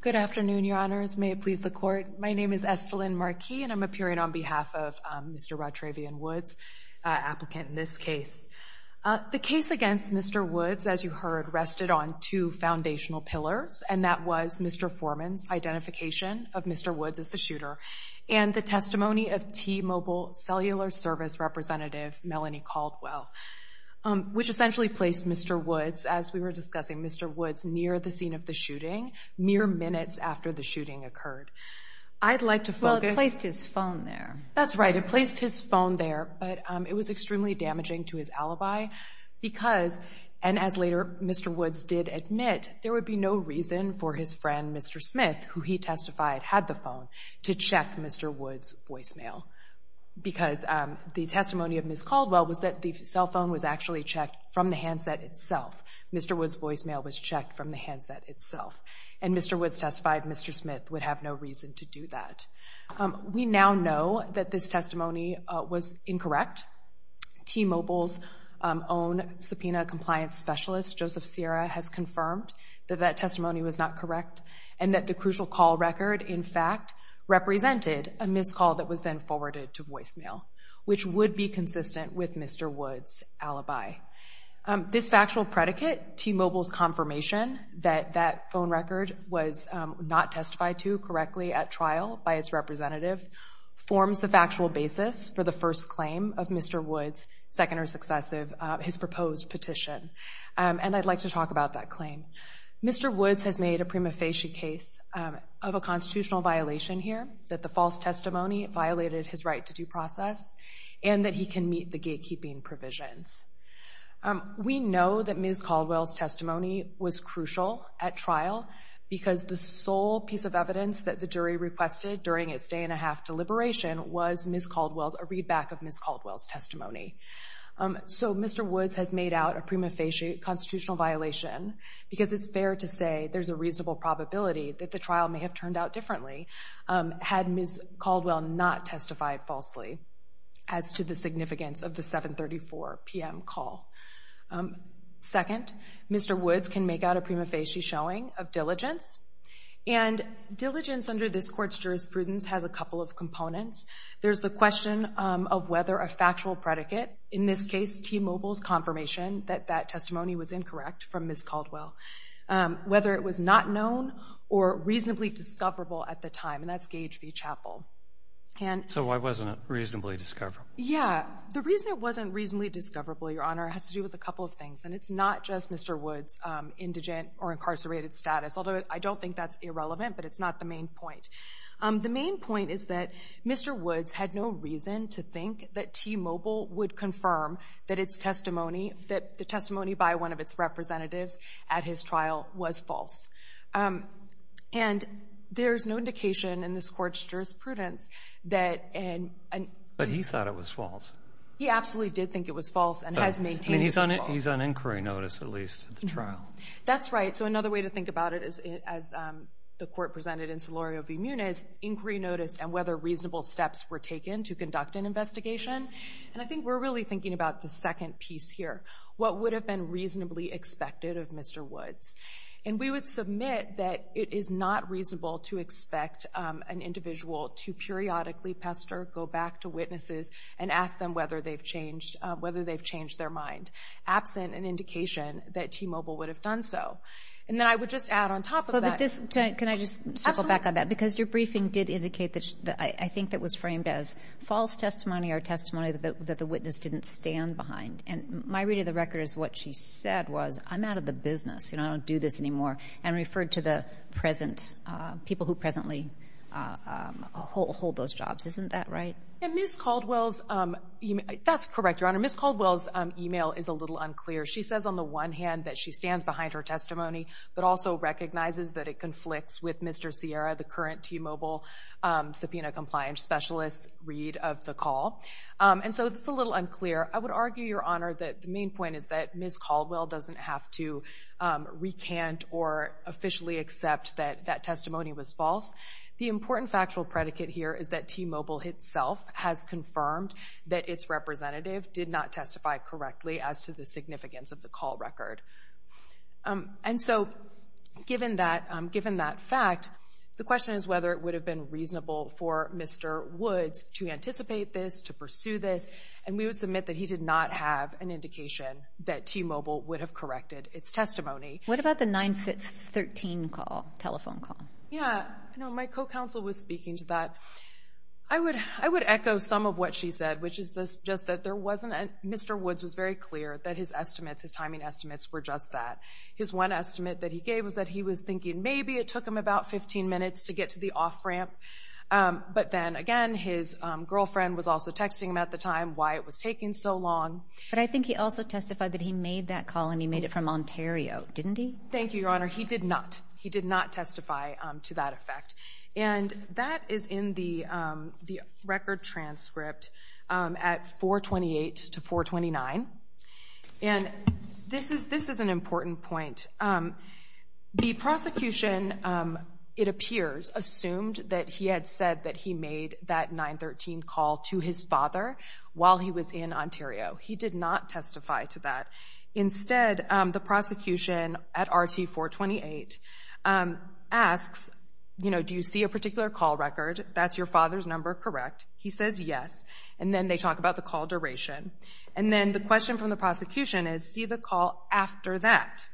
Good afternoon, Your Honors. May it please the Court. My name is Estelyn Marquis, and I'm appearing on behalf of Mr. Rod Travion Woods, applicant in this case. The case against Mr. Woods, as you heard, rested on two foundational pillars, and that was Mr. Foreman's identification of Mr. Woods as the shooter, and the testimony of T-Mobile cellular service representative Melanie Caldwell, which essentially placed Mr. Woods, as we were discussing, Mr. Woods near the scene of the shooting, mere minutes after the shooting occurred. I'd like to focus... Well, it placed his phone there. That's right. It placed his phone there, but it was extremely damaging to his alibi because, and as later Mr. Woods did admit, there would be no reason for his friend, Mr. Smith, who he testified had the phone, to check Mr. Woods' voicemail because the testimony of Ms. Caldwell was that the cell phone was actually checked from the handset itself. Mr. Woods' voicemail was checked from the handset itself. And Mr. Woods testified Mr. Smith would have no reason to do that. We now know that this testimony was incorrect. T-Mobile's own subpoena compliance specialist, Joseph Sierra, has confirmed that that testimony was not correct and that the crucial call record, in fact, represented a missed call that was then forwarded to voicemail, which would be consistent with Mr. Woods' alibi. This factual predicate, T-Mobile's confirmation that that phone record was not testified to correctly at trial by its representative, forms the factual basis for the first claim of Mr. Woods, second or successive, his proposed petition. Mr. Woods has made a prima facie case of a constitutional violation here, that the false testimony violated his right to due process and that he can meet the gatekeeping provisions. We know that Ms. Caldwell's testimony was crucial at trial because the sole piece of evidence that the jury requested during its day-and-a-half deliberation was Ms. Caldwell's, a readback of Ms. Caldwell's testimony. So Mr. Woods has made out a prima facie constitutional violation because it's fair to say there's a reasonable probability that the trial may have turned out differently had Ms. Caldwell not testified falsely as to the significance of the 7.34 p.m. call. Second, Mr. Woods can make out a prima facie showing of diligence, and diligence under this court's jurisprudence has a couple of components. There's the question of whether a factual predicate, in this case T-Mobile's confirmation that that testimony was incorrect from Ms. Caldwell, whether it was not known or reasonably discoverable at the time, and that's Gage v. Chappell. So why wasn't it reasonably discoverable? Yeah, the reason it wasn't reasonably discoverable, Your Honor, has to do with a couple of things, and it's not just Mr. Woods' indigent or incarcerated status, although I don't think that's irrelevant, but it's not the main point. The main point is that Mr. Woods had no reason to think that T-Mobile would confirm that its testimony, that the testimony by one of its representatives at his trial was false. And there's no indication in this Court's jurisprudence that an — But he thought it was false. He absolutely did think it was false and has maintained it was false. He's on inquiry notice, at least, at the trial. That's right. So another way to think about it, as the Court presented in Solorio v. Muniz, inquiry notice and whether reasonable steps were taken to conduct an investigation. And I think we're really thinking about the second piece here, what would have been reasonably expected of Mr. Woods. And we would submit that it is not reasonable to expect an individual to periodically pester, go back to witnesses, and ask them whether they've changed their mind, absent an indication that T-Mobile would have done so. And then I would just add on top of that — But this — can I just circle back on that? Absolutely. Because your briefing did indicate that — I think that was framed as false testimony or testimony that the witness didn't stand behind. And my reading of the record is what she said was, I'm out of the business. You know, I don't do this anymore, and referred to the present — people who presently hold those jobs. And Ms. Caldwell's — that's correct, Your Honor. Ms. Caldwell's email is a little unclear. She says on the one hand that she stands behind her testimony, but also recognizes that it conflicts with Mr. Sierra, the current T-Mobile subpoena compliance specialist, read of the call. And so it's a little unclear. I would argue, Your Honor, that the main point is that Ms. Caldwell doesn't have to recant or officially accept that that testimony was false. The important factual predicate here is that T-Mobile itself has confirmed that its representative did not testify correctly as to the significance of the call record. And so given that fact, the question is whether it would have been reasonable for Mr. Woods to anticipate this, to pursue this, and we would submit that he did not have an indication that T-Mobile would have corrected its testimony. What about the 913 call, telephone call? Yeah. You know, my co-counsel was speaking to that. I would echo some of what she said, which is just that Mr. Woods was very clear that his estimates, his timing estimates, were just that. His one estimate that he gave was that he was thinking maybe it took him about 15 minutes to get to the off-ramp. But then, again, his girlfriend was also texting him at the time why it was taking so long. But I think he also testified that he made that call and he made it from Ontario, didn't he? Thank you, Your Honor. He did not. He did not testify to that effect. And that is in the record transcript at 428 to 429. And this is an important point. The prosecution, it appears, assumed that he had said that he made that 913 call to his father while he was in Ontario. He did not testify to that. Instead, the prosecution at RT 428 asks, you know, do you see a particular call record? That's your father's number, correct? He says yes. And then they talk about the call duration. And then the question from the prosecution is, see the call after that.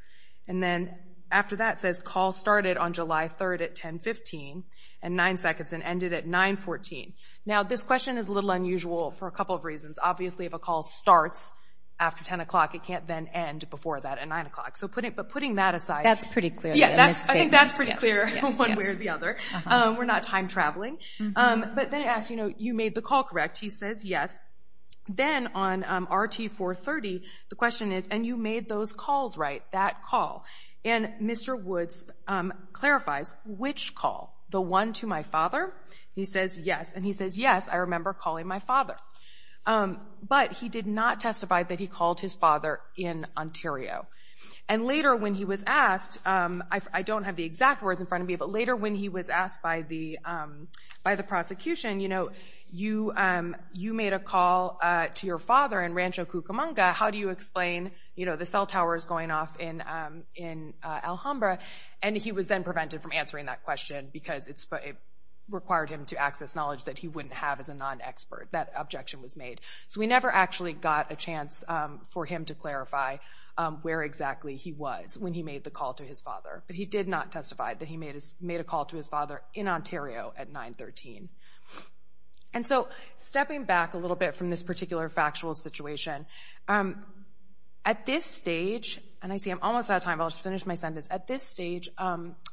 And then after that says, call started on July 3rd at 10.15 and 9 seconds and ended at 9.14. Obviously, if a call starts after 10 o'clock, it can't then end before that at 9 o'clock. But putting that aside. That's pretty clear. I think that's pretty clear one way or the other. We're not time traveling. But then it asks, you know, you made the call, correct? He says yes. Then on RT 430, the question is, and you made those calls right, that call. And Mr. Woods clarifies which call, the one to my father? He says yes. And he says yes, I remember calling my father. But he did not testify that he called his father in Ontario. And later when he was asked, I don't have the exact words in front of me, but later when he was asked by the prosecution, you know, you made a call to your father in Rancho Cucamonga. How do you explain, you know, the cell towers going off in Alhambra? And he was then prevented from answering that question because it required him to access knowledge that he wouldn't have as a non-expert. That objection was made. So we never actually got a chance for him to clarify where exactly he was when he made the call to his father. But he did not testify that he made a call to his father in Ontario at 9.13. And so stepping back a little bit from this particular factual situation, at this stage, and I see I'm almost out of time. I'll just finish my sentence. At this stage,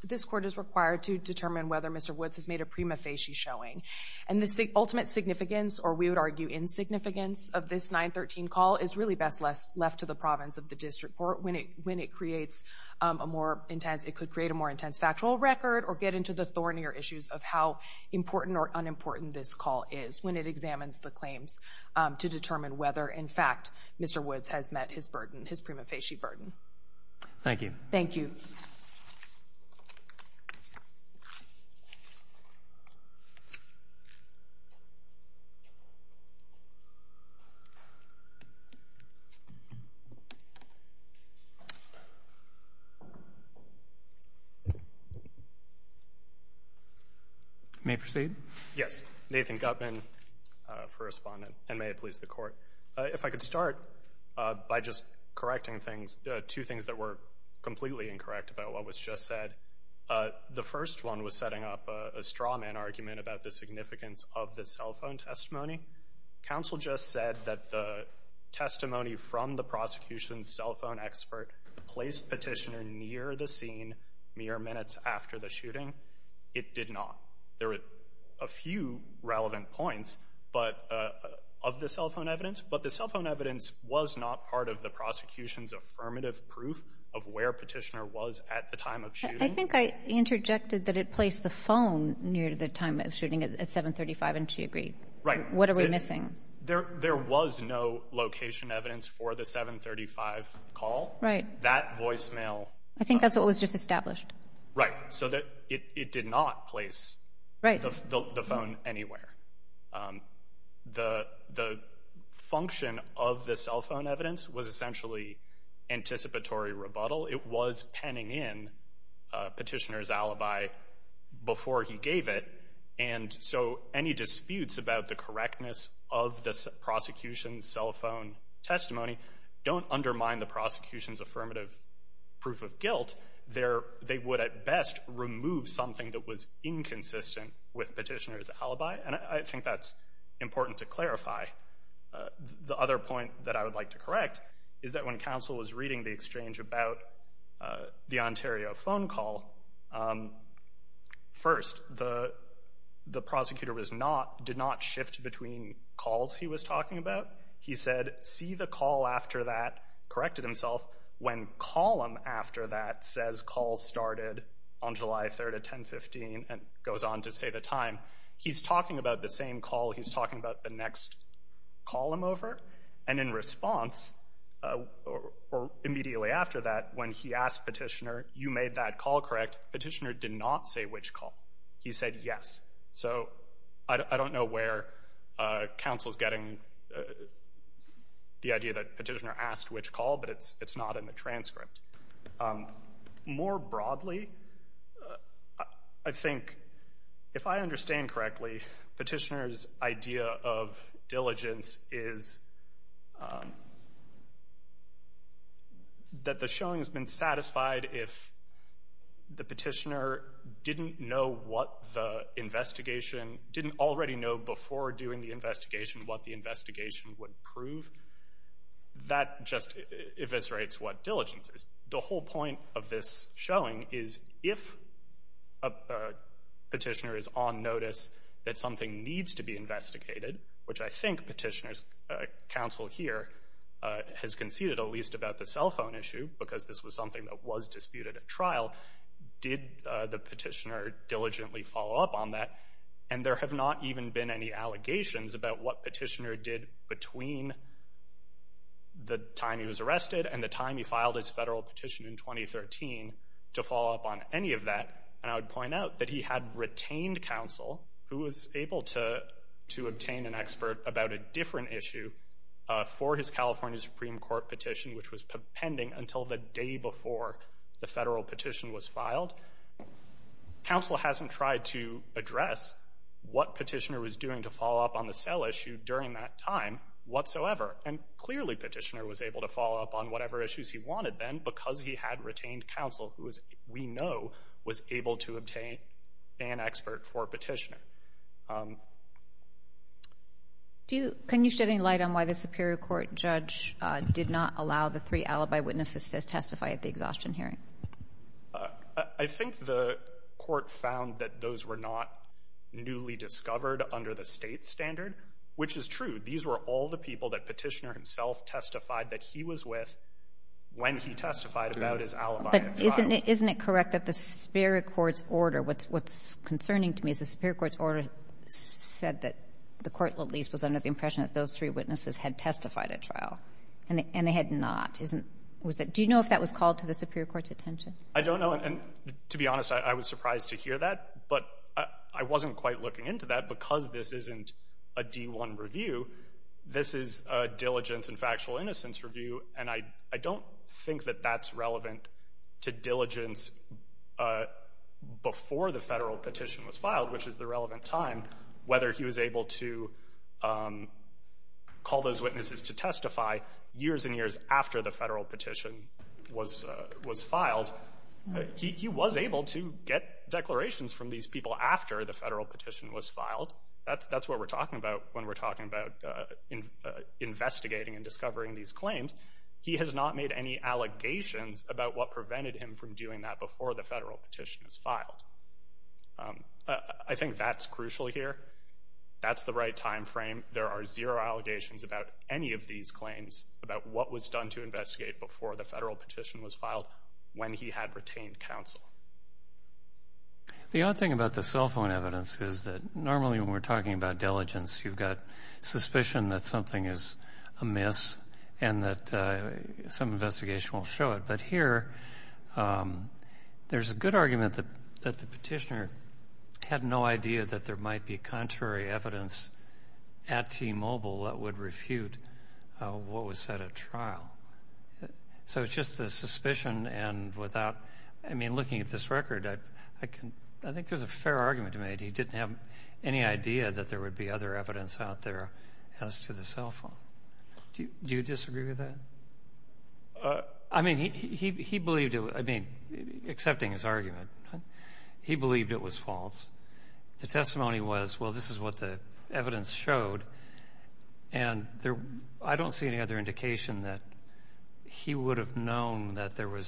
this Court is required to determine whether Mr. Woods has made a prima facie showing. And the ultimate significance, or we would argue insignificance, of this 9.13 call is really best left to the province of the District Court when it creates a more intense, it could create a more intense factual record or get into the thornier issues of how important or unimportant this call is when it examines the claims to determine whether, in fact, Mr. Woods has met his burden, his prima facie burden. Thank you. Thank you. May I proceed? Yes. Nathan Gutman for respondent, and may it please the Court. If I could start by just correcting two things that were completely incorrect about what was just said. The first one was setting up a straw man argument about the significance of the cell phone testimony. Counsel just said that the testimony from the prosecution's cell phone expert placed Petitioner near the scene mere minutes after the shooting. It did not. There were a few relevant points of the cell phone evidence, but the cell phone evidence was not part of the prosecution's affirmative proof of where Petitioner was at the time of shooting. I think I interjected that it placed the phone near the time of shooting at 735, and she agreed. Right. What are we missing? There was no location evidence for the 735 call. That voicemail. I think that's what was just established. Right. So it did not place the phone anywhere. The function of the cell phone evidence was essentially anticipatory rebuttal. It was penning in Petitioner's alibi before he gave it, and so any disputes about the correctness of the prosecution's cell phone testimony don't undermine the prosecution's affirmative proof of guilt. They would at best remove something that was inconsistent with Petitioner's alibi, and I think that's important to clarify. The other point that I would like to correct is that when counsel was reading the exchange about the Ontario phone call, first, the prosecutor did not shift between calls he was talking about. He said, see the call after that, corrected himself. When column after that says call started on July 3rd at 10.15 and goes on to say the time, he's talking about the same call. He's talking about the next column over. And in response, or immediately after that, when he asked Petitioner, you made that call correct, Petitioner did not say which call. He said yes. So I don't know where counsel's getting the idea that Petitioner asked which call, but it's not in the transcript. More broadly, I think, if I understand correctly, Petitioner's idea of diligence is that the showing has been satisfied if the petitioner didn't know what the investigation, didn't already know before doing the investigation what the investigation would prove. That just eviscerates what diligence is. The whole point of this showing is if a petitioner is on notice that something needs to be investigated, which I think Petitioner's counsel here has conceded, at least about the cell phone issue, because this was something that was disputed at trial, did the petitioner diligently follow up on that? And there have not even been any allegations about what Petitioner did between the time he was arrested and the time he filed his federal petition in 2013 to follow up on any of that. And I would point out that he had retained counsel, who was able to obtain an expert about a different issue for his California Supreme Court petition, which was pending until the day before the federal petition was filed. Counsel hasn't tried to address what Petitioner was doing to follow up on the cell issue during that time whatsoever. And clearly Petitioner was able to follow up on whatever issues he wanted then because he had retained counsel, who we know was able to obtain an expert for Petitioner. Can you shed any light on why the Superior Court judge did not allow the three alibi witnesses to testify at the exhaustion hearing? I think the court found that those were not newly discovered under the state standard, which is true. These were all the people that Petitioner himself testified that he was with when he testified about his alibi at trial. But isn't it correct that the Superior Court's order, what's concerning to me is the Superior Court's order said that the court at least was under the impression that those three witnesses had testified at trial, and they had not. Do you know if that was called to the Superior Court's attention? I don't know. And to be honest, I was surprised to hear that. But I wasn't quite looking into that because this isn't a D-1 review. This is a diligence and factual innocence review, and I don't think that that's relevant to diligence before the federal petition was filed, which is the relevant time, whether he was able to call those witnesses to testify years and years after the federal petition was filed. He was able to get declarations from these people after the federal petition was filed. That's what we're talking about when we're talking about investigating and discovering these claims. He has not made any allegations about what prevented him from doing that before the federal petition was filed. I think that's crucial here. That's the right time frame. There are zero allegations about any of these claims, about what was done to investigate before the federal petition was filed when he had retained counsel. The odd thing about the cell phone evidence is that normally when we're talking about diligence, you've got suspicion that something is amiss and that some investigation won't show it. But here, there's a good argument that the petitioner had no idea that there might be contrary evidence at T-Mobile that would refute what was said at trial. So it's just the suspicion and without, I mean, looking at this record, I think there's a fair argument to make. He didn't have any idea that there would be other evidence out there as to the cell phone. Do you disagree with that? I mean, he believed it. I mean, accepting his argument, he believed it was false. The testimony was, well, this is what the evidence showed, and I don't see any other indication that he would have known that there were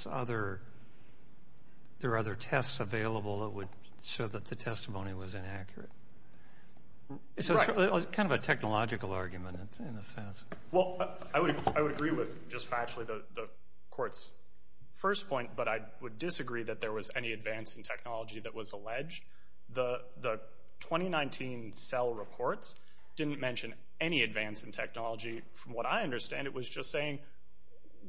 other tests available that would show that the testimony was inaccurate. So it's kind of a technological argument in a sense. Well, I would agree with just factually the Court's first point, but I would disagree that there was any advance in technology that was alleged. The 2019 cell reports didn't mention any advance in technology from what I understand. It was just saying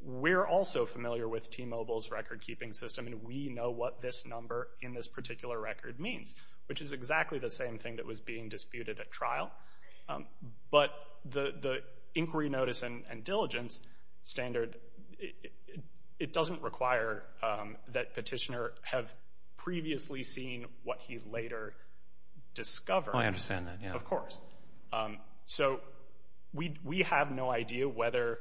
we're also familiar with T-Mobile's record-keeping system, and we know what this number in this particular record means, which is exactly the same thing that was being disputed at trial. But the inquiry notice and diligence standard, it doesn't require that petitioner have previously seen what he later discovered. Oh, I understand that, yeah. Of course. So we have no idea whether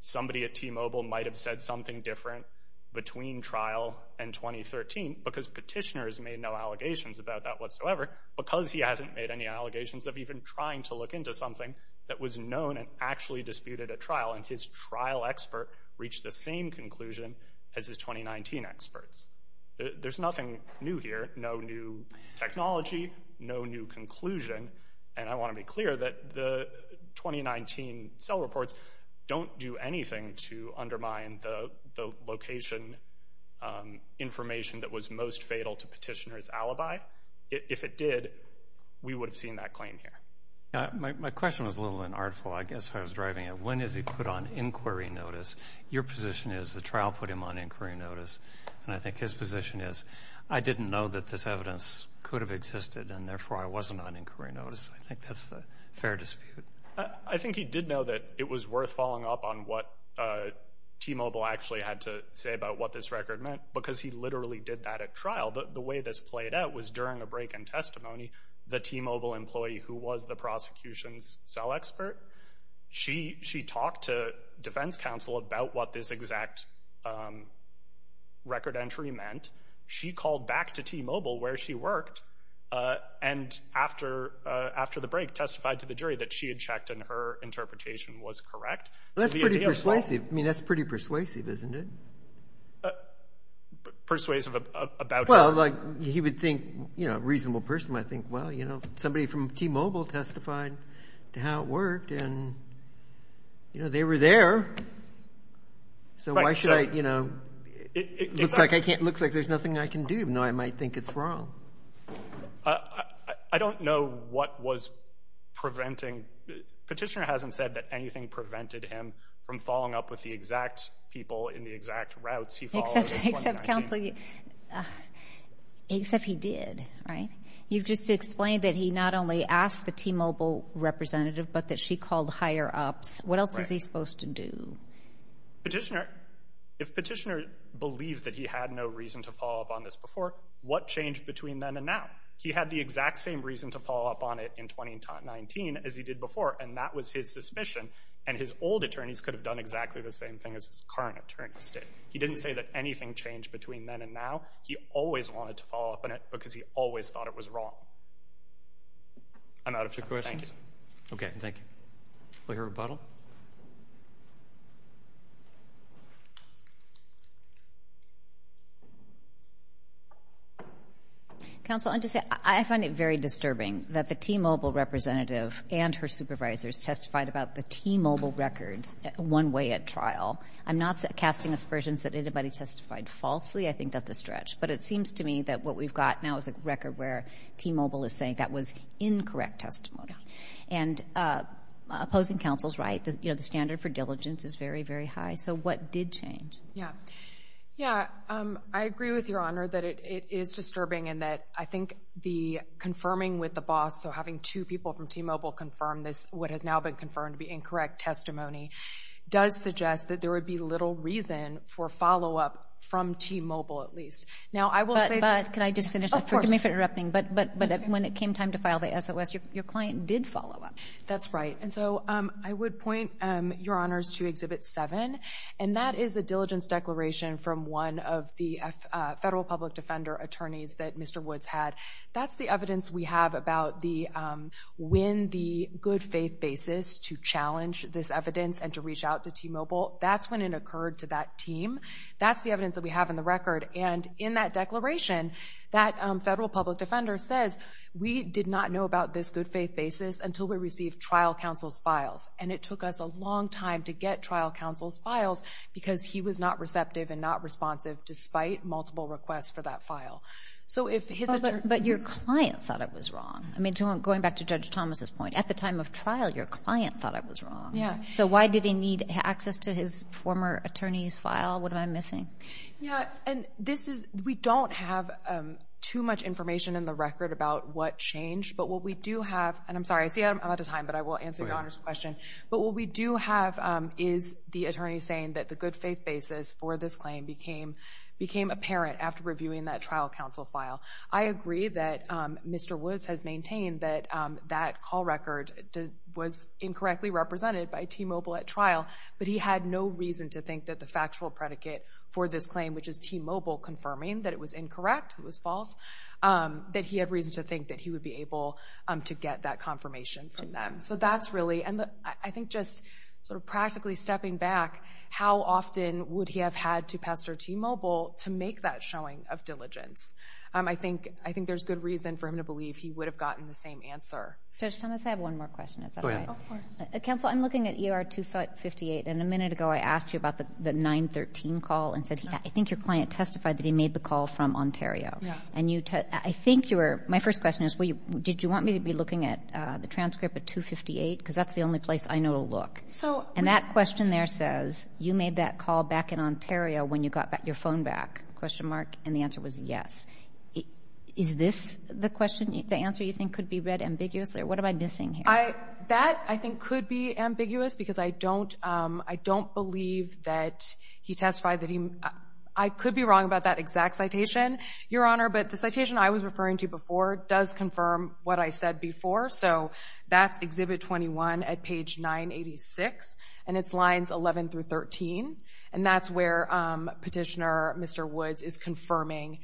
somebody at T-Mobile might have said something different between trial and 2013 because petitioners made no allegations about that whatsoever because he hasn't made any allegations of even trying to look into something that was known and actually disputed at trial, and his trial expert reached the same conclusion as his 2019 experts. There's nothing new here, no new technology, no new conclusion, and I want to be clear that the 2019 cell reports don't do anything to undermine the location information that was most fatal to petitioner's alibi. If it did, we would have seen that claim here. My question was a little unartful. I guess I was driving at when is he put on inquiry notice. Your position is the trial put him on inquiry notice, and I think his position is I didn't know that this evidence could have existed, and therefore I wasn't on inquiry notice. I think that's a fair dispute. I think he did know that it was worth following up on what T-Mobile actually had to say about what this record meant because he literally did that at trial. The way this played out was during a break in testimony, the T-Mobile employee who was the prosecution's cell expert, she talked to defense counsel about what this exact record entry meant. She called back to T-Mobile where she worked, and after the break testified to the jury that she had checked and her interpretation was correct. That's pretty persuasive, isn't it? Persuasive about her. Well, like he would think, you know, a reasonable person might think, well, you know, somebody from T-Mobile testified to how it worked, and, you know, they were there, so why should I, you know, looks like there's nothing I can do. No, I might think it's wrong. I don't know what was preventing. Petitioner hasn't said that anything prevented him from following up with the exact people in the exact routes he followed. Except counsel, except he did, right? You've just explained that he not only asked the T-Mobile representative, but that she called higher-ups. What else is he supposed to do? Petitioner, if petitioner believed that he had no reason to follow up on this before, what changed between then and now? He had the exact same reason to follow up on it in 2019 as he did before, and that was his suspicion, and his old attorneys could have done exactly the same thing as his current attorneys did. He didn't say that anything changed between then and now. He always wanted to follow up on it because he always thought it was wrong. I'm out of two questions. Okay, thank you. We'll hear a rebuttal. Counsel, I just want to say I find it very disturbing that the T-Mobile representative and her supervisors testified about the T-Mobile records one way at trial. I'm not casting aspersions that anybody testified falsely. I think that's a stretch. But it seems to me that what we've got now is a record where T-Mobile is saying that was incorrect testimony. And opposing counsel's right, you know, the standard for diligence is very, very high. So what did change? Yeah. Yeah. I agree with Your Honor that it is disturbing and that I think the confirming with the boss, so having two people from T-Mobile confirm this, what has now been confirmed to be incorrect testimony, does suggest that there would be little reason for follow-up from T-Mobile at least. Now, I will say that. But can I just finish? Oh, of course. Forgive me for interrupting, but when it came time to file the SOS, your client did follow up. That's right. And so I would point Your Honors to Exhibit 7, and that is a diligence declaration from one of the federal public defender attorneys that Mr. Woods had. That's the evidence we have about when the good faith basis to challenge this evidence and to reach out to T-Mobile, that's when it occurred to that team. That's the evidence that we have in the record. And in that declaration, that federal public defender says, we did not know about this good faith basis until we received trial counsel's files. And it took us a long time to get trial counsel's files because he was not receptive and not responsive despite multiple requests for that file. But your client thought it was wrong. I mean, going back to Judge Thomas's point, at the time of trial, your client thought it was wrong. Yeah. So why did he need access to his former attorney's file? What am I missing? Yeah. And we don't have too much information in the record about what changed. But what we do have, and I'm sorry, I see I'm out of time, but I will answer Your Honor's question. But what we do have is the attorney saying that the good faith basis for this claim became apparent after reviewing that trial counsel file. I agree that Mr. Woods has maintained that that call record was incorrectly represented by T-Mobile at trial, but he had no reason to think that the factual predicate for this claim, which is T-Mobile confirming that it was incorrect, it was false, that he had reason to think that he would be able to get that confirmation from them. So that's really, and I think just sort of practically stepping back, how often would he have had to pass it to T-Mobile to make that showing of diligence? I think there's good reason for him to believe he would have gotten the same answer. Judge Thomas, I have one more question. Is that all right? Go ahead. Of course. Counsel, I'm looking at ER 258, and a minute ago I asked you about the 913 call, and I think your client testified that he made the call from Ontario. Yeah. And you, I think you were, my first question is, did you want me to be looking at the transcript of 258? Because that's the only place I know to look. And that question there says, you made that call back in Ontario when you got your phone back, question mark, and the answer was yes. Is this the question, the answer you think could be read ambiguously, or what am I missing here? That, I think, could be ambiguous, because I don't believe that he testified that he, I could be wrong about that exact citation, Your Honor. But the citation I was referring to before does confirm what I said before, so that's Exhibit 21 at page 986, and it's lines 11 through 13, and that's where Petitioner Mr. Woods is confirming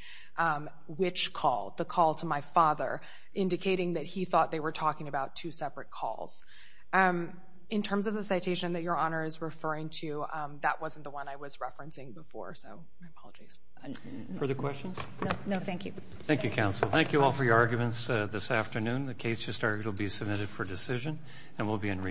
which call, the call to my father, indicating that he thought they were talking about two separate calls. In terms of the citation that Your Honor is referring to, that wasn't the one I was referencing before, so my apologies. Further questions? No, thank you. Thank you, counsel. Thank you all for your arguments this afternoon. The case has started to be submitted for decision, and we'll be in recess.